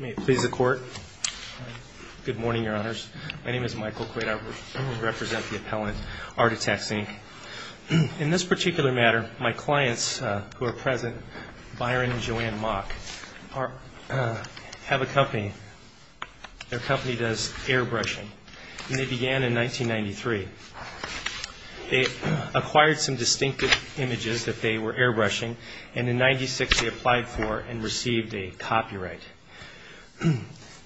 May it please the Court. Good morning, Your Honors. My name is Michael Quaid. I represent the appellant Art Attacks Ink. In this particular matter, my clients who are present, Byron and Joanne Mock, have a company. Their company does airbrushing. And they began in 1993. They acquired some distinctive images that they were airbrushing. And in 1996, they applied for and received a copyright.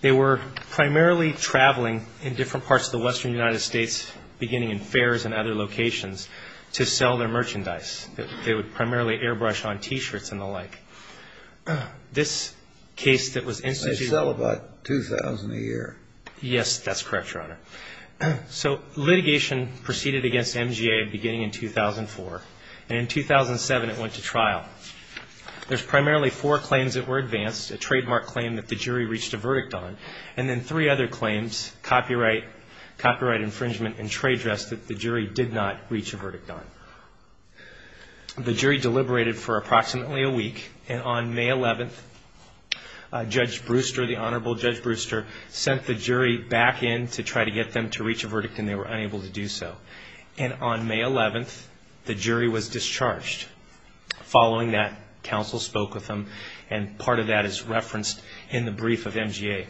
They were primarily traveling in different parts of the western United States, beginning in fairs and other locations, to sell their merchandise. They would primarily airbrush on T-shirts and the like. They sell about 2,000 a year. Yes, that's correct, Your Honor. So litigation proceeded against MGA beginning in 2004. And in 2007, it went to trial. There's primarily four claims that were advanced, a trademark claim that the jury reached a verdict on, and then three other claims, copyright infringement and trade dress, that the jury did not reach a verdict on. The jury deliberated for approximately a week. And on May 11th, Judge Brewster, the Honorable Judge Brewster, sent the jury back in to try to get them to reach a verdict, and they were unable to do so. And on May 11th, the jury was discharged. Following that, counsel spoke with them. And part of that is referenced in the brief of MGA.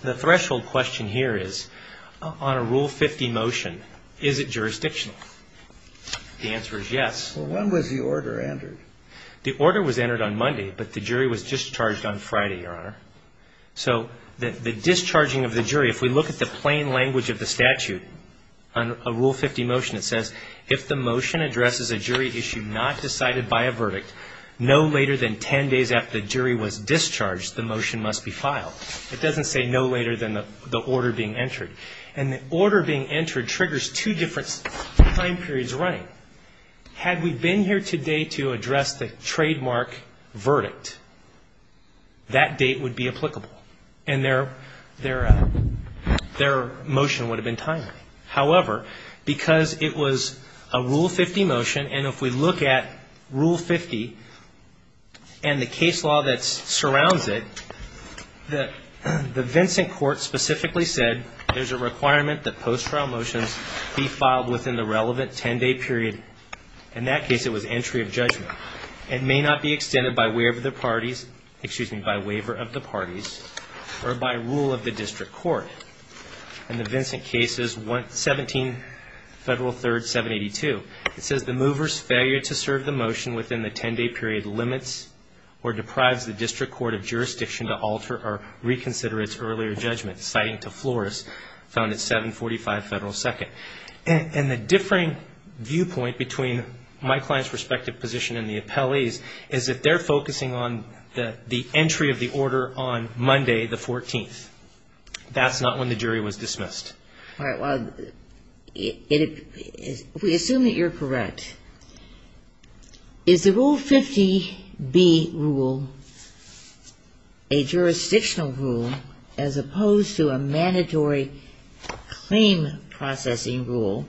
The threshold question here is, on a Rule 50 motion, is it jurisdictional? The answer is yes. Well, when was the order entered? The order was entered on Monday, but the jury was discharged on Friday, Your Honor. So the discharging of the jury, if we look at the plain language of the statute, on a Rule 50 motion, it says, if the motion addresses a jury issue not decided by a verdict, no later than 10 days after the jury was discharged, the motion must be filed. It doesn't say no later than the order being entered. And the order being entered triggers two different time periods running. Had we been here today to address the trademark verdict, that date would be applicable, and their motion would have been timely. However, because it was a Rule 50 motion, and if we look at Rule 50 and the case law that surrounds it, the Vincent Court specifically said there's a requirement that post-trial motions be filed within the relevant 10-day period. In that case, it was entry of judgment. It may not be extended by waiver of the parties or by rule of the district court. In the Vincent case, it's 17 Federal 3rd 782. It says the mover's failure to serve the motion within the 10-day period limits or deprives the district court of jurisdiction to alter or reconsider its earlier judgment, citing to Flores, found at 745 Federal 2nd. And the differing viewpoint between my client's respective position and the appellee's is that they're focusing on the entry of the order on Monday the 14th. That's not when the jury was dismissed. All right. Well, we assume that you're correct. Is the Rule 50-B rule a jurisdictional rule as opposed to a mandatory claim processing rule?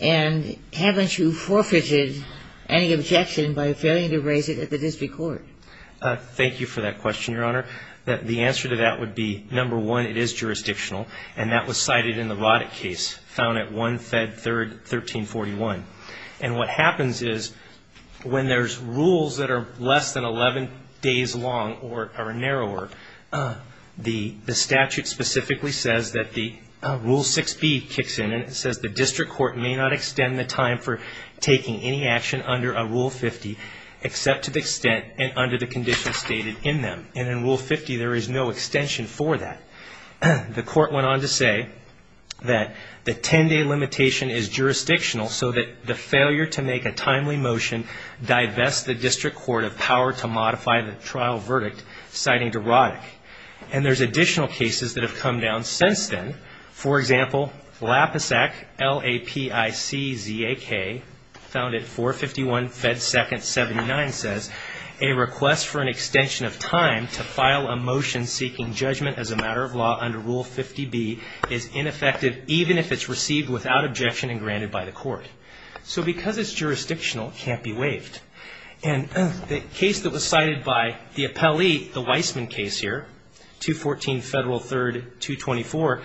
And haven't you forfeited any objection by failing to raise it at the district court? Thank you for that question, Your Honor. The answer to that would be, number one, it is jurisdictional, and that was cited in the Roddick case found at 1 Federal 3rd 1341. And what happens is when there's rules that are less than 11 days long or narrower, the statute specifically says that the Rule 6-B kicks in, and it says the district court may not extend the time for taking any action under a Rule 50 except to the extent and under the conditions stated in them. And in Rule 50, there is no extension for that. The court went on to say that the 10-day limitation is jurisdictional so that the failure to make a timely motion divests the district court of power to modify the trial verdict, citing to Roddick. And there's additional cases that have come down since then. For example, LAPISAC, L-A-P-I-C-Z-A-K, found at 451 Fed 2nd 79 says, a request for an extension of time to file a motion seeking judgment as a matter of law under Rule 50-B is ineffective even if it's received without objection and granted by the court. So because it's jurisdictional, it can't be waived. And the case that was cited by the appellee, the Weissman case here, 214 Federal 3rd 224,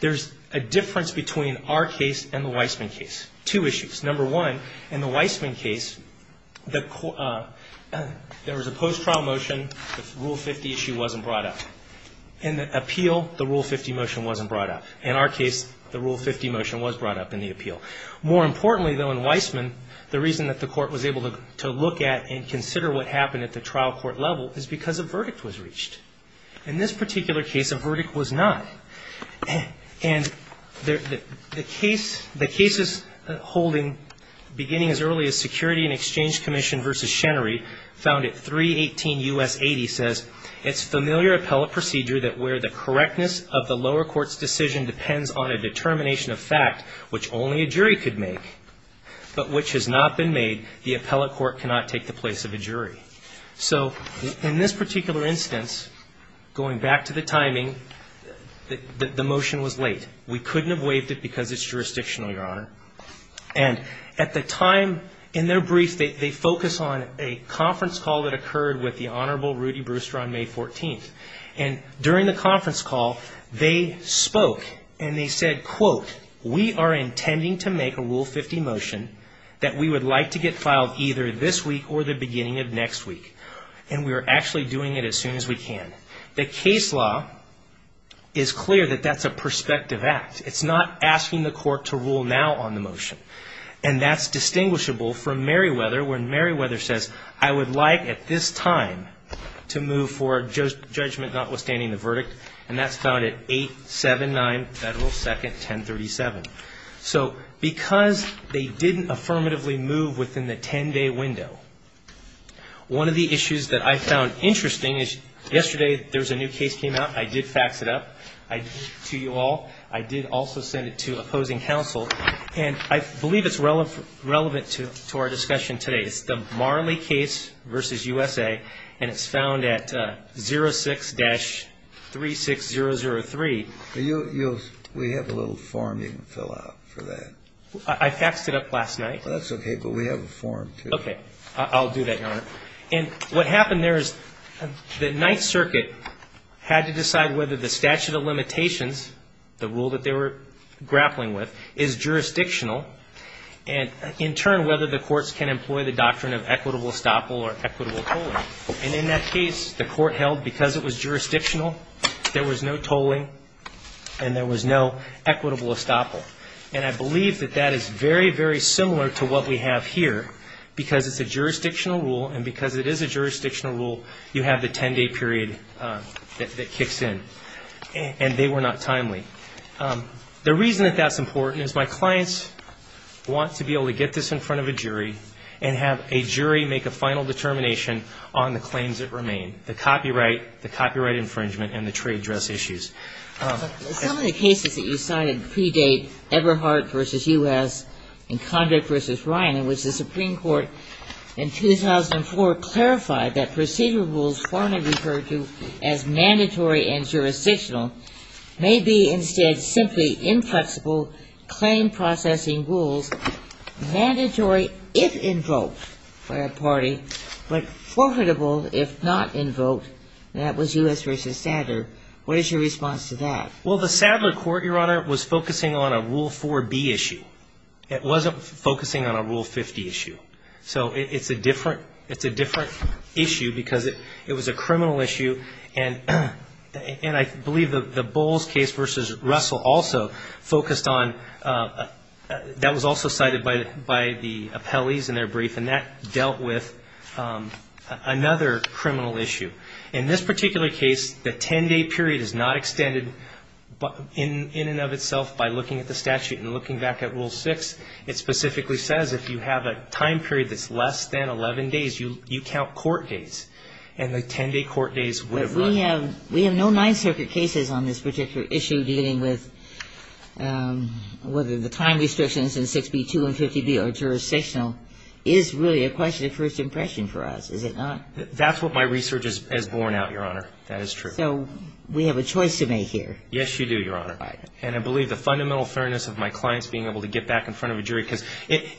there's a difference between our case and the Weissman case, two issues. Number one, in the Weissman case, there was a post-trial motion. The Rule 50 issue wasn't brought up. In the appeal, the Rule 50 motion wasn't brought up. In our case, the Rule 50 motion was brought up in the appeal. More importantly, though, in Weissman, the reason that the court was able to look at and consider what happened at the trial court level is because a verdict was reached. In this particular case, a verdict was not. And the case is holding beginning as early as Security and Exchange Commission v. Shenry, found at 318 U.S. 80, says, It's familiar appellate procedure that where the correctness of the lower court's decision depends on a determination of fact which only a jury could make, but which has not been made, the appellate court cannot take the place of a jury. So in this particular instance, going back to the timing, the motion was late. We couldn't have waived it because it's jurisdictional, Your Honor. And at the time in their brief, they focus on a conference call that occurred with the Honorable Rudy Brewster on May 14th. And during the conference call, they spoke and they said, quote, We are intending to make a Rule 50 motion that we would like to get filed either this week or the beginning of next week. And we are actually doing it as soon as we can. The case law is clear that that's a prospective act. It's not asking the court to rule now on the motion. And that's distinguishable from Merriweather when Merriweather says, I would like at this time to move for judgment notwithstanding the verdict. And that's found at 879 Federal 2nd 1037. So because they didn't affirmatively move within the 10-day window, one of the issues that I found interesting is yesterday there was a new case came out. I did fax it up to you all. I did also send it to opposing counsel. And I believe it's relevant to our discussion today. It's the Marley case versus USA. And it's found at 06-36003. We have a little form you can fill out for that. I faxed it up last night. That's OK. But we have a form, too. OK. I'll do that, Your Honor. And what happened there is the Ninth Circuit had to decide whether the statute of limitations, the rule that they were grappling with, is jurisdictional, and in turn whether the courts can employ the doctrine of equitable estoppel or equitable tolling. And in that case, the court held because it was jurisdictional, there was no tolling, and there was no equitable estoppel. And I believe that that is very, very similar to what we have here, because it's a jurisdictional rule, and because it is a jurisdictional rule, you have the 10-day period that kicks in. And they were not timely. The reason that that's important is my clients want to be able to get this in front of a jury and have a jury make a final determination on the claims that remain, the copyright, the copyright infringement, and the trade dress issues. Some of the cases that you cited predate Eberhardt versus U.S. and Condrick versus Ryan, in which the Supreme Court in 2004 clarified that procedural rules as mandatory and jurisdictional may be instead simply inflexible claim processing rules, mandatory if invoked by a party, but forfeitable if not invoked, and that was U.S. versus Sadler. What is your response to that? Well, the Sadler court, Your Honor, was focusing on a Rule 4B issue. It wasn't focusing on a Rule 50 issue. So it's a different issue because it was a criminal issue, and I believe the Bowles case versus Russell also focused on, that was also cited by the appellees in their brief, and that dealt with another criminal issue. In this particular case, the 10-day period is not extended in and of itself by looking at the statute. And looking back at Rule 6, it specifically says if you have a time period that's less than 11 days, you count court days, and the 10-day court days would have run out. But we have no Ninth Circuit cases on this particular issue dealing with whether the time restrictions in 6B, 2 and 50B are jurisdictional is really a question of first impression for us, is it not? That's what my research has borne out, Your Honor. That is true. So we have a choice to make here. Yes, you do, Your Honor. And I believe the fundamental fairness of my clients being able to get back in front of a jury, because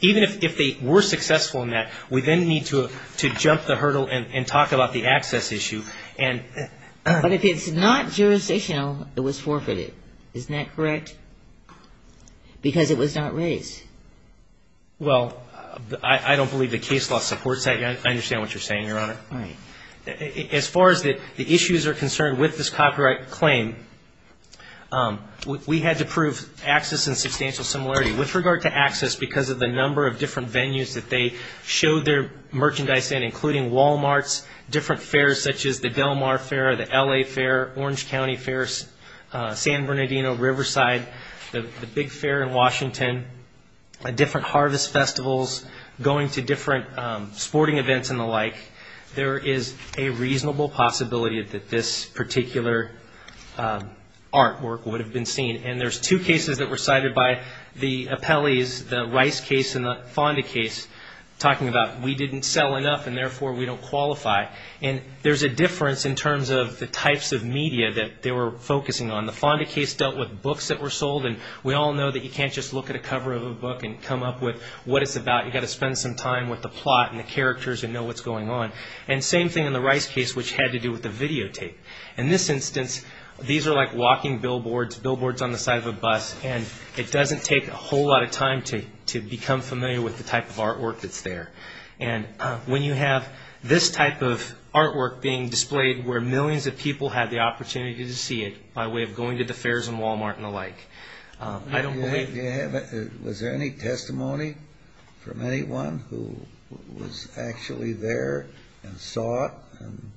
even if they were successful in that, we then need to jump the hurdle and talk about the access issue. But if it's not jurisdictional, it was forfeited. Isn't that correct? Because it was not raised. Well, I don't believe the case law supports that. I understand what you're saying, Your Honor. Right. As far as the issues are concerned with this copyright claim, we had to prove access and substantial similarity. With regard to access, because of the number of different venues that they showed their merchandise in, including Walmarts, different fairs such as the Del Mar Fair, the L.A. Fair, Orange County Fair, San Bernardino, Riverside, the big fair in Washington, different harvest festivals, going to different sporting events and the like. There is a reasonable possibility that this particular artwork would have been seen. And there's two cases that were cited by the appellees, the Rice case and the Fonda case, talking about we didn't sell enough and therefore we don't qualify. And there's a difference in terms of the types of media that they were focusing on. The Fonda case dealt with books that were sold. And we all know that you can't just look at a cover of a book and come up with what it's about. You've got to spend some time with the plot and the characters and know what's going on. And same thing in the Rice case, which had to do with the videotape. In this instance, these are like walking billboards, billboards on the side of a bus, and it doesn't take a whole lot of time to become familiar with the type of artwork that's there. And when you have this type of artwork being displayed where millions of people have the opportunity to see it by way of going to the fairs and Walmart and the like, I don't believe it. Was there any testimony from anyone who was actually there and saw it and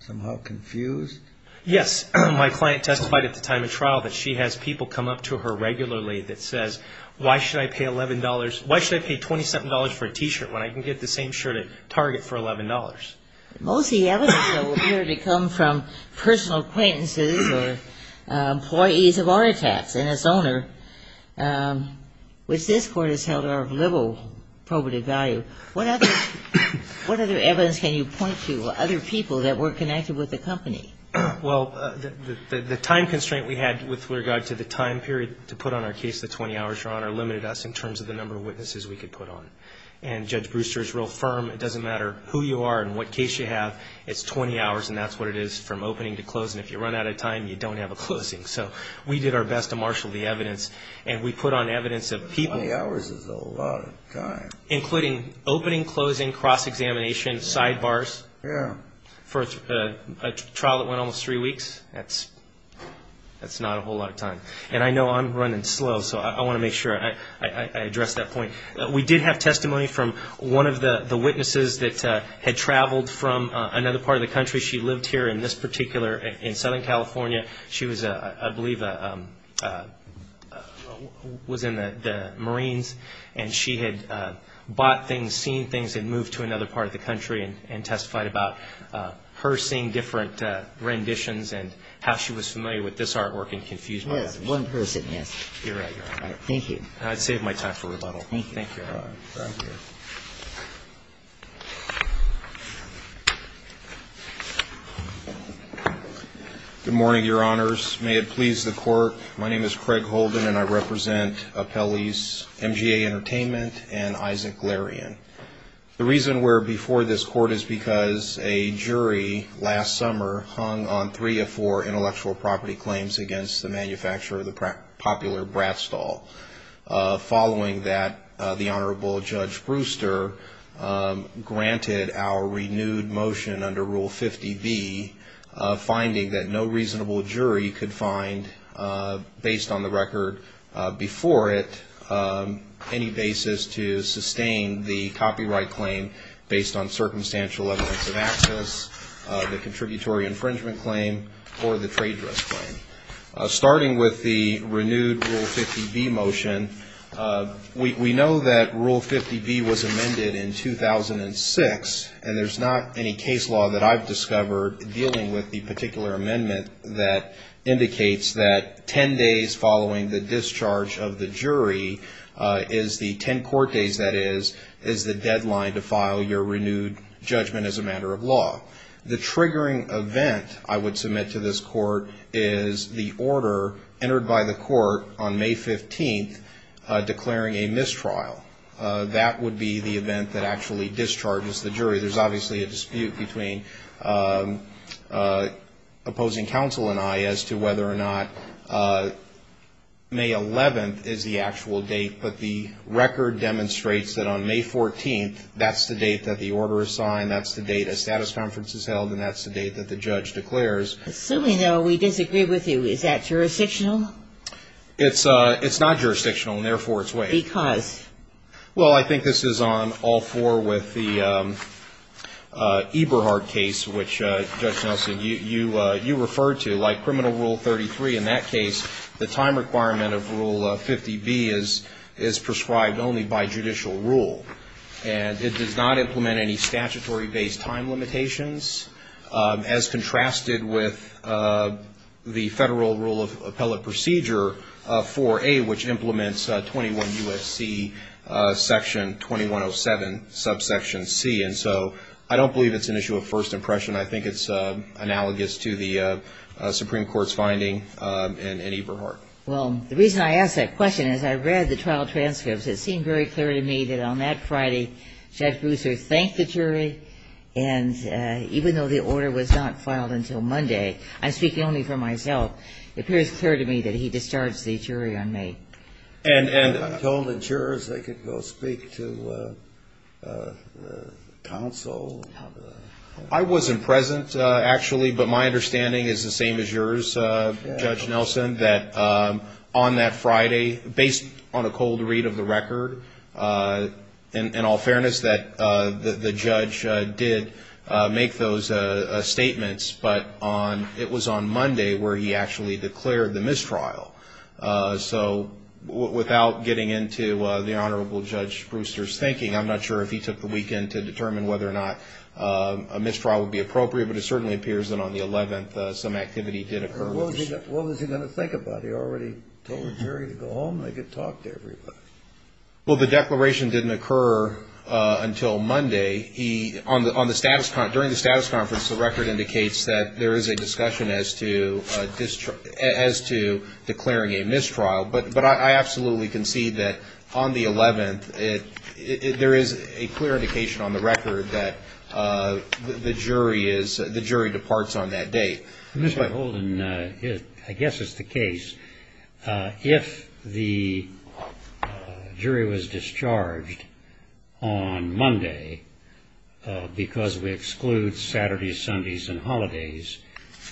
somehow confused? Yes. My client testified at the time of trial that she has people come up to her regularly that says, why should I pay $11, why should I pay $27 for a T-shirt when I can get the same shirt at Target for $11? Most of the evidence, though, appeared to come from personal acquaintances or employees of Aritax and its owner, which this Court has held of liberal probative value. What other evidence can you point to, other people that were connected with the company? Well, the time constraint we had with regard to the time period to put on our case, the 20 hours, Your Honor, limited us in terms of the number of witnesses we could put on. And Judge Brewster is real firm, it doesn't matter who you are and what case you have, it's 20 hours and that's what it is from opening to closing. If you run out of time, you don't have a closing. So we did our best to marshal the evidence and we put on evidence of people. 20 hours is a lot of time. Including opening, closing, cross-examination, sidebars. Yeah. For a trial that went almost three weeks, that's not a whole lot of time. And I know I'm running slow, so I want to make sure I address that point. We did have testimony from one of the witnesses that had traveled from another part of the country. She lived here in this particular, in Southern California. She was, I believe, was in the Marines. And she had bought things, seen things, and moved to another part of the country and testified about her seeing different renditions and how she was familiar with this artwork and confused by it. Yes, one person, yes. You're right, Your Honor. Thank you. I saved my time for rebuttal. Thank you, Your Honor. Thank you. Good morning, Your Honors. May it please the Court, my name is Craig Holden and I represent Appellee's MGA Entertainment and Isaac Larian. The reason we're before this Court is because a jury last summer hung on three or four intellectual property claims against the manufacturer of the popular Brat Stall. Following that, the Honorable Judge Brewster granted our renewed motion under Rule 50B, finding that no reasonable jury could find, based on the record before it, any basis to sustain the copyright claim based on circumstantial evidence of access, the contributory infringement claim, or the trade dress claim. Starting with the renewed Rule 50B motion, we know that Rule 50B was amended in 2006, and there's not any case law that I've discovered dealing with the particular amendment that indicates that 10 days following the discharge of the jury is the 10 court days, that is, is the deadline to file your renewed judgment as a matter of law. The triggering event I would submit to this Court is the order entered by the Court on May 15th declaring a mistrial. That would be the event that actually discharges the jury. There's obviously a dispute between opposing counsel and I as to whether or not May 11th is the actual date, but the record demonstrates that on May 14th, that's the date that the order is signed, that's the date a status conference is held, and that's the date that the judge declares. Assuming, though, we disagree with you, is that jurisdictional? It's not jurisdictional, and therefore it's waived. Because? Well, I think this is on all four with the Eberhardt case, which, Judge Nelson, you referred to. Like Criminal Rule 33 in that case, the time requirement of Rule 50B is prescribed only by judicial rule. And it does not implement any statutory-based time limitations, as contrasted with the Federal Rule of Appellate Procedure 4A, which implements 21 U.S.C. Section 2107, Subsection C. And so I don't believe it's an issue of first impression. I think it's analogous to the Supreme Court's finding in Eberhardt. Well, the reason I ask that question is I read the trial transcripts. It seemed very clear to me that on that Friday, Judge Brewser thanked the jury, and even though the order was not filed until Monday, I'm speaking only for myself, it appears clear to me that he discharged the jury on May. And told the jurors they could go speak to counsel? I wasn't present, actually, but my understanding is the same as yours, Judge Nelson, that on that Friday, based on a cold read of the record, in all fairness, that the judge did make those statements, but it was on Monday where he actually declared the mistrial. So without getting into the Honorable Judge Brewster's thinking, I'm not sure if he took the weekend to determine whether or not a mistrial would be appropriate, but it certainly appears that on the 11th some activity did occur. What was he going to think about? He already told the jury to go home and they could talk to everybody. Well, the declaration didn't occur until Monday. During the status conference, the record indicates that there is a discussion as to declaring a mistrial, but I absolutely concede that on the 11th there is a clear indication on the record that the jury departs on that date. Mr. Holden, I guess it's the case, if the jury was discharged on Monday, because we exclude Saturdays, Sundays, and holidays,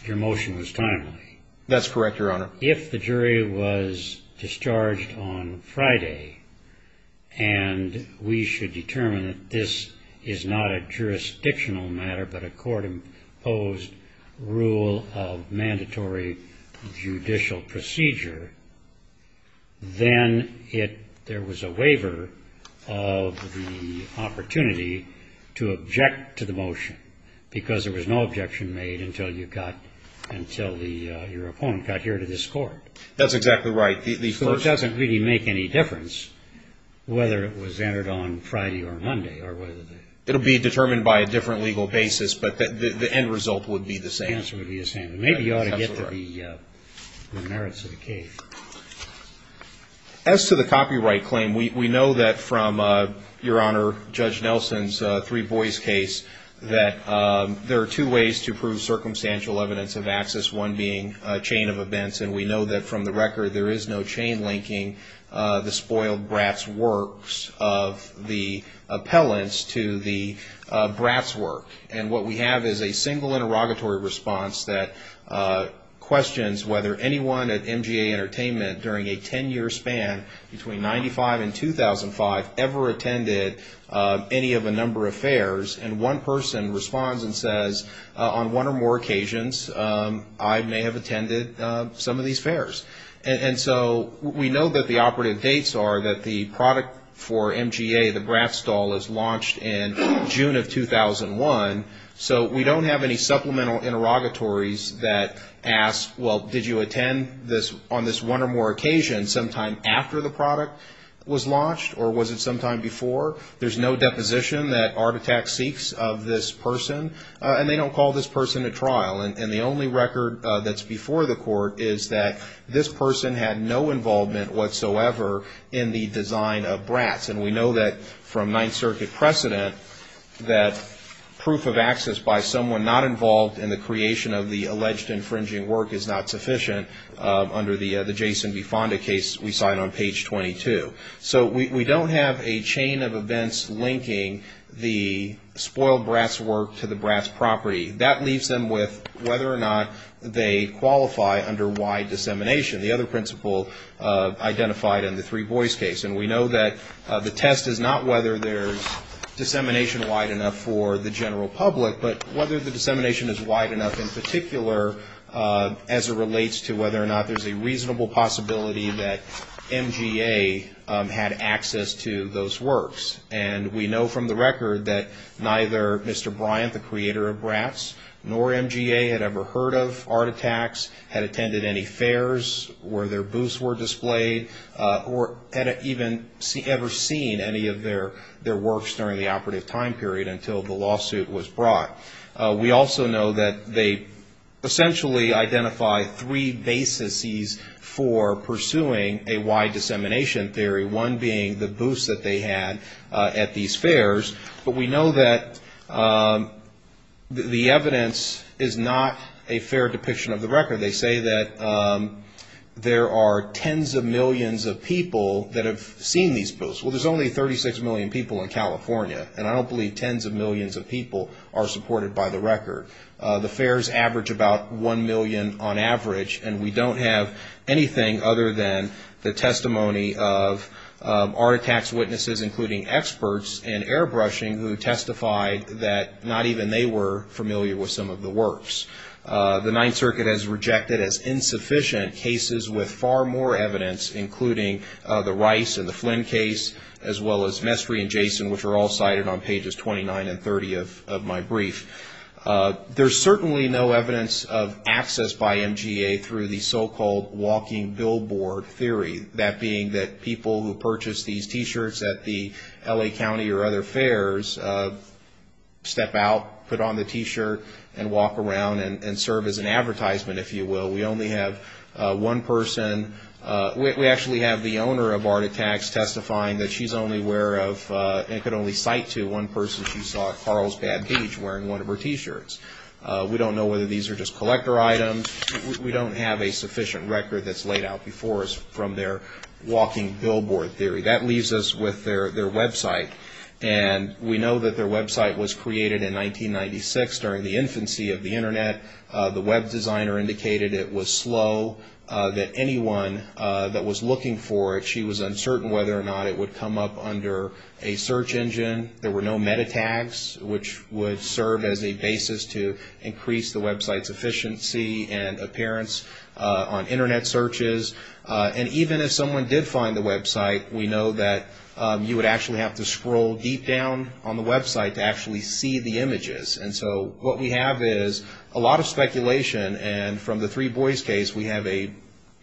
your motion was timely. That's correct, Your Honor. If the jury was discharged on Friday and we should determine that this is not a jurisdictional matter, but a court-imposed rule of mandatory judicial procedure, then there was a waiver of the opportunity to object to the motion, because there was no objection made until your opponent got here to this court. That's exactly right. So it doesn't really make any difference whether it was entered on Friday or Monday. It will be determined by a different legal basis, but the end result would be the same. The answer would be the same. As to the copyright claim, we know that from, Your Honor, Judge Nelson's Three Boys case, that there are two ways to prove circumstantial evidence of access, one being a chain of events, and we know that from the record there is no chain linking the spoiled brats' works of the appellants to the brats' work. And what we have is a single interrogatory response that questions whether anyone at MGA Entertainment during a ten-year span between 1995 and 2005 ever attended any of a number of fairs, and one person responds and says, on one or more occasions, I may have attended some of these fairs. And so we know that the operative dates are that the product for MGA, the Brat Stall, is launched in June of 2001, so we don't have any supplemental interrogatories that ask, well, did you attend on this one or more occasion, sometime after the product was launched, or was it sometime before? There's no deposition that Art Attack seeks of this person, and they don't call this person to trial. And the only record that's before the court is that this person had no involvement whatsoever in the design of brats. And we know that from Ninth Circuit precedent that proof of access by someone not involved in the creation of the alleged infringing work is not sufficient under the Jason B. Fonda case we cite on page 22. So we don't have a chain of events linking the spoiled brats' work to the brats' property. That leaves them with whether or not they qualify under wide dissemination, the other principle identified in the three boys case. And we know that the test is not whether there's dissemination wide enough for the general public, but whether the dissemination is wide enough in particular as it relates to whether or not there's a reasonable possibility that MGA had access to those works. And we know from the record that neither Mr. Bryant, the creator of brats, nor MGA had ever heard of Art Attacks, had attended any fairs where their booths were displayed, or had even ever seen any of their works during the operative time period until the lawsuit was brought. We also know that they essentially identify three bases for pursuing a wide dissemination theory, one being the booths that they had at these fairs. But we know that the evidence is not a fair depiction of the record. They say that there are tens of millions of people that have seen these booths. Well, there's only 36 million people in California, and I don't believe tens of millions of people are supported by the record. The fairs average about 1 million on average, and we don't have anything other than the testimony of Art Attacks witnesses, including experts in airbrushing who testified that not even they were familiar with some of the works. The Ninth Circuit has rejected as insufficient cases with far more evidence, including the Rice and the Flynn case, as well as Mestre and Jason, which are all cited on pages 29 and 30 of my brief. There's certainly no evidence of access by MGA through the so-called walking billboard theory, that being that people who purchase these T-shirts at the L.A. County or other fairs step out, put on the T-shirt, and walk around and serve as an advertisement, if you will. We only have one person. We actually have the owner of Art Attacks testifying that she's only aware of and could only cite to one person she saw at Carlsbad Beach wearing one of her T-shirts. We don't know whether these are just collector items. We don't have a sufficient record that's laid out before us from their walking billboard theory. That leaves us with their website. And we know that their website was created in 1996 during the infancy of the Internet. The web designer indicated it was slow, that anyone that was looking for it, she was uncertain whether or not it would come up under a search engine. There were no meta tags, which would serve as a basis to increase the website's efficiency and appearance on Internet searches. And even if someone did find the website, we know that you would actually have to scroll deep down on the website to actually see the images. And so what we have is a lot of speculation. And from the Three Boys case, we have a,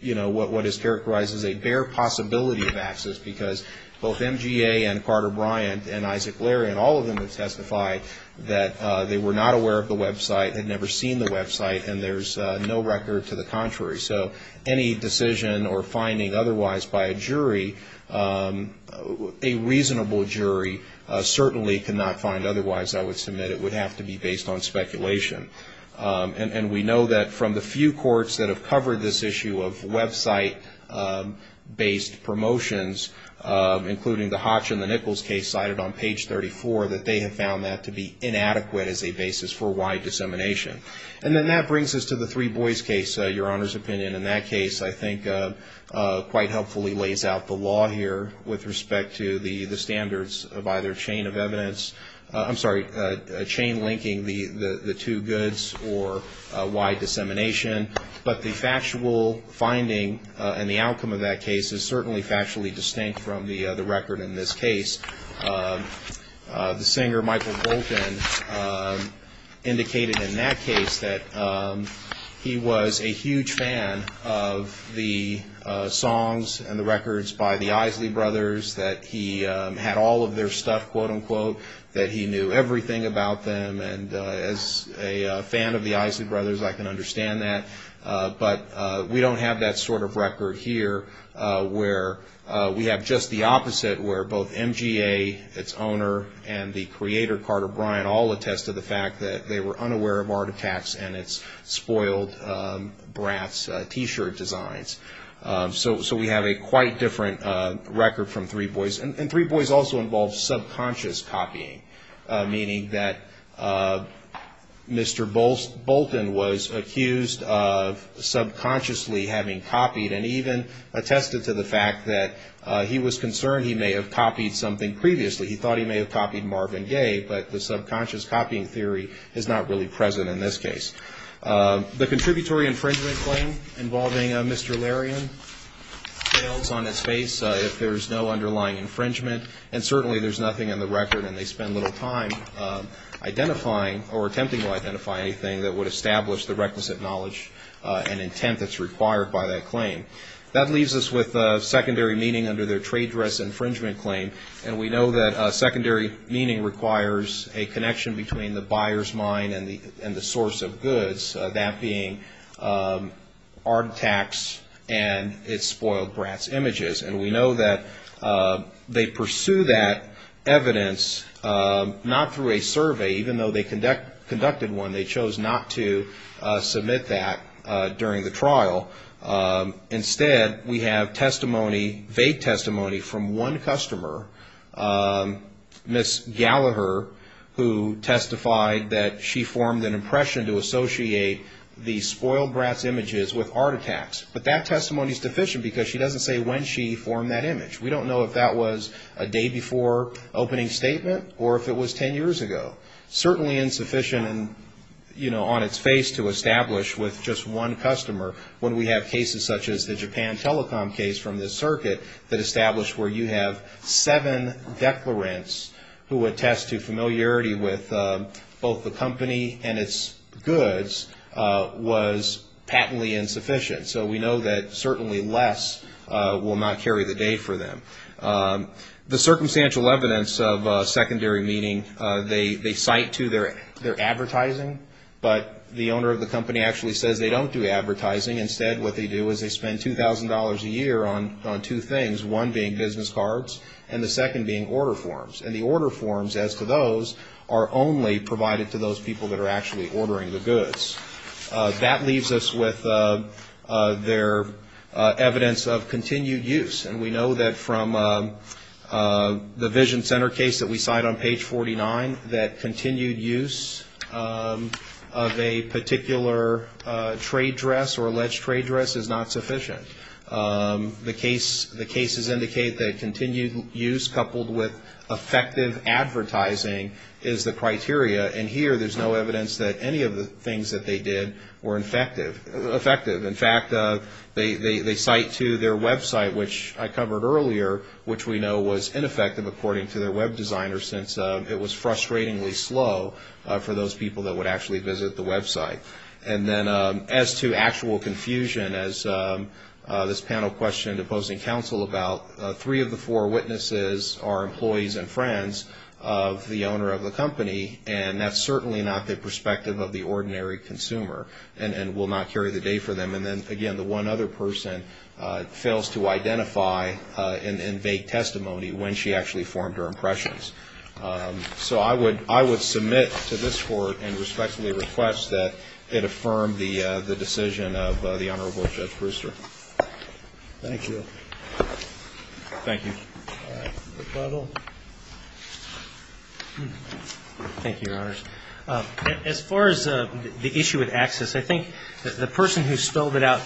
you know, what is characterized as a bare possibility of access because both MGA and Carter Bryant and Isaac Larian, all of them have testified that they were not aware of the website, had never seen the website, and there's no record to the contrary. So any decision or finding otherwise by a jury, a reasonable jury, certainly could not find otherwise, I would submit. It would have to be based on speculation. And we know that from the few courts that have covered this issue of website-based promotions, including the Hotch and the Nichols case cited on page 34, that they have found that to be inadequate as a basis for wide dissemination. And then that brings us to the Three Boys case, Your Honor's opinion. In that case, I think quite helpfully lays out the law here with respect to the standards of either chain of evidence. I'm sorry, chain linking the two goods or wide dissemination. But the factual finding and the outcome of that case is certainly factually distinct from the record in this case. The singer Michael Colton indicated in that case that he was a huge fan of the songs and the records by the Isley Brothers, that he had all of their stuff, quote-unquote, that he knew everything about them. And as a fan of the Isley Brothers, I can understand that. But we don't have that sort of record here where we have just the opposite, where both MGA, its owner, and the creator, Carter Bryant, all attested the fact that they were unaware of Art Attack's and its spoiled Bratz T-shirt designs. So we have a quite different record from Three Boys. And Three Boys also involves subconscious copying, meaning that Mr. Bolton was accused of subconsciously having copied and even attested to the fact that he was concerned he may have copied something previously. He thought he may have copied Marvin Gaye, but the subconscious copying theory is not really present in this case. The contributory infringement claim involving Mr. Larian fails on its face if there is no underlying infringement. And certainly there's nothing in the record, and they spend little time identifying or attempting to identify anything that would establish the requisite knowledge and intent that's required by that claim. That leaves us with secondary meaning under their trade dress infringement claim. And we know that secondary meaning requires a connection between the buyer's mind and the source of goods, that being Art Attack's and its spoiled Bratz images. And we know that they pursue that evidence not through a survey, even though they conducted one. They chose not to submit that during the trial. Instead, we have testimony, vague testimony from one customer, Ms. Gallagher, who testified that she formed an impression to associate the spoiled Bratz images with Art Attack's. But that testimony is deficient because she doesn't say when she formed that image. We don't know if that was a day before opening statement or if it was 10 years ago. Certainly insufficient and, you know, on its face to establish with just one customer when we have cases such as the Japan Telecom case from this circuit that established where you have seven declarants who attest to familiarity with both the company and its goods was patently insufficient. So we know that certainly less will not carry the day for them. The circumstantial evidence of secondary meeting, they cite to their advertising, but the owner of the company actually says they don't do advertising. Instead, what they do is they spend $2,000 a year on two things, one being business cards and the second being order forms. And the order forms, as to those, are only provided to those people that are actually ordering the goods. That leaves us with their evidence of continued use. And we know that from the Vision Center case that we cite on page 49, that continued use of a particular trade dress or alleged trade dress is not sufficient. The cases indicate that continued use coupled with effective advertising is the criteria. And here there's no evidence that any of the things that they did were effective. In fact, they cite to their website, which I covered earlier, which we know was ineffective according to their web designer, since it was frustratingly slow for those people that would actually visit the website. And then as to actual confusion, as this panel questioned opposing counsel about, three of the four witnesses are employees and friends of the owner of the company, and that's certainly not the perspective of the ordinary consumer and will not carry the day for them. And then, again, the one other person fails to identify in vague testimony when she actually formed her impressions. So I would submit to this Court and respectfully request that it affirm the decision of the Honorable Judge Brewster. Thank you. Thank you. Rebuttal. Thank you, Your Honors. As far as the issue with access, I think the person who spelled it out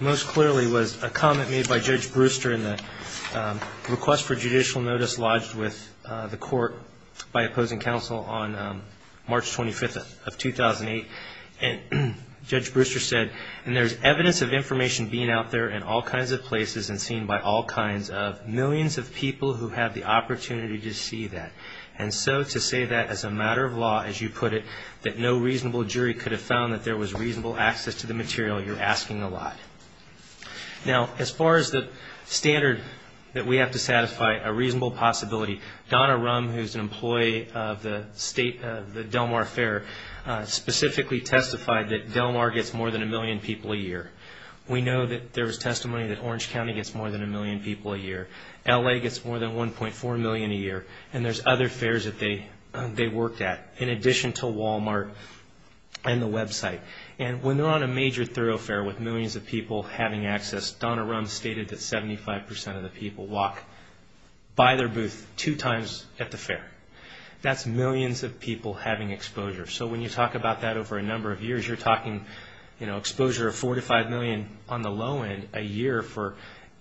most clearly was a comment made by Judge Brewster in the request for judicial notice lodged with the Court by opposing counsel on March 25th of 2008. And Judge Brewster said, and there's evidence of information being out there in all kinds of places and seen by all kinds of millions of people who have the opportunity to see that. And so to say that as a matter of law, as you put it, that no reasonable jury could have found that there was reasonable access to the material, you're asking a lot. Now, as far as the standard that we have to satisfy, a reasonable possibility, Donna Rum, who's an employee of the Del Mar Fair, specifically testified that Del Mar gets more than a million people a year. We know that there was testimony that Orange County gets more than a million people a year. L.A. gets more than 1.4 million a year. And there's other fairs that they worked at, in addition to Walmart and the website. And when they're on a major thoroughfare with millions of people having access, Donna Rum stated that 75 percent of the people walk by their booth two times at the fair. That's millions of people having exposure. So when you talk about that over a number of years, you're talking exposure of 4 to 5 million on the low end a year for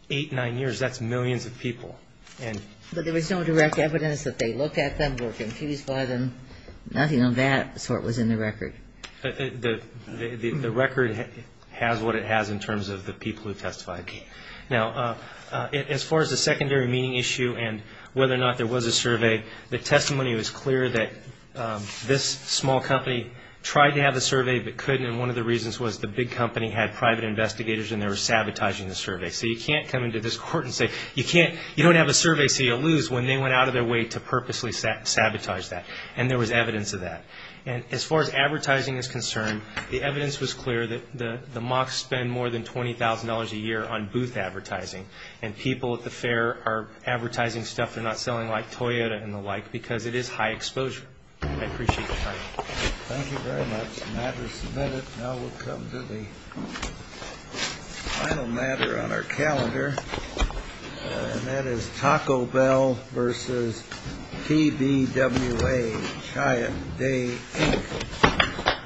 eight, nine years. That's millions of people. But there was no direct evidence that they looked at them, were confused by them. Nothing of that sort was in the record. The record has what it has in terms of the people who testified. Now, as far as the secondary meeting issue and whether or not there was a survey, the testimony was clear that this small company tried to have a survey but couldn't, and one of the reasons was the big company had private investigators and they were sabotaging the survey. So you can't come into this court and say you don't have a survey, so you'll lose when they went out of their way to purposely sabotage that. And there was evidence of that. And as far as advertising is concerned, the evidence was clear that the mocks spend more than $20,000 a year on booth advertising, and people at the fair are advertising stuff they're not selling like Toyota and the like because it is high exposure. I appreciate your time. Thank you very much. The matter is submitted. Now we'll come to the final matter on our calendar, and that is Taco Bell versus TBWA, Chianti Day Inc.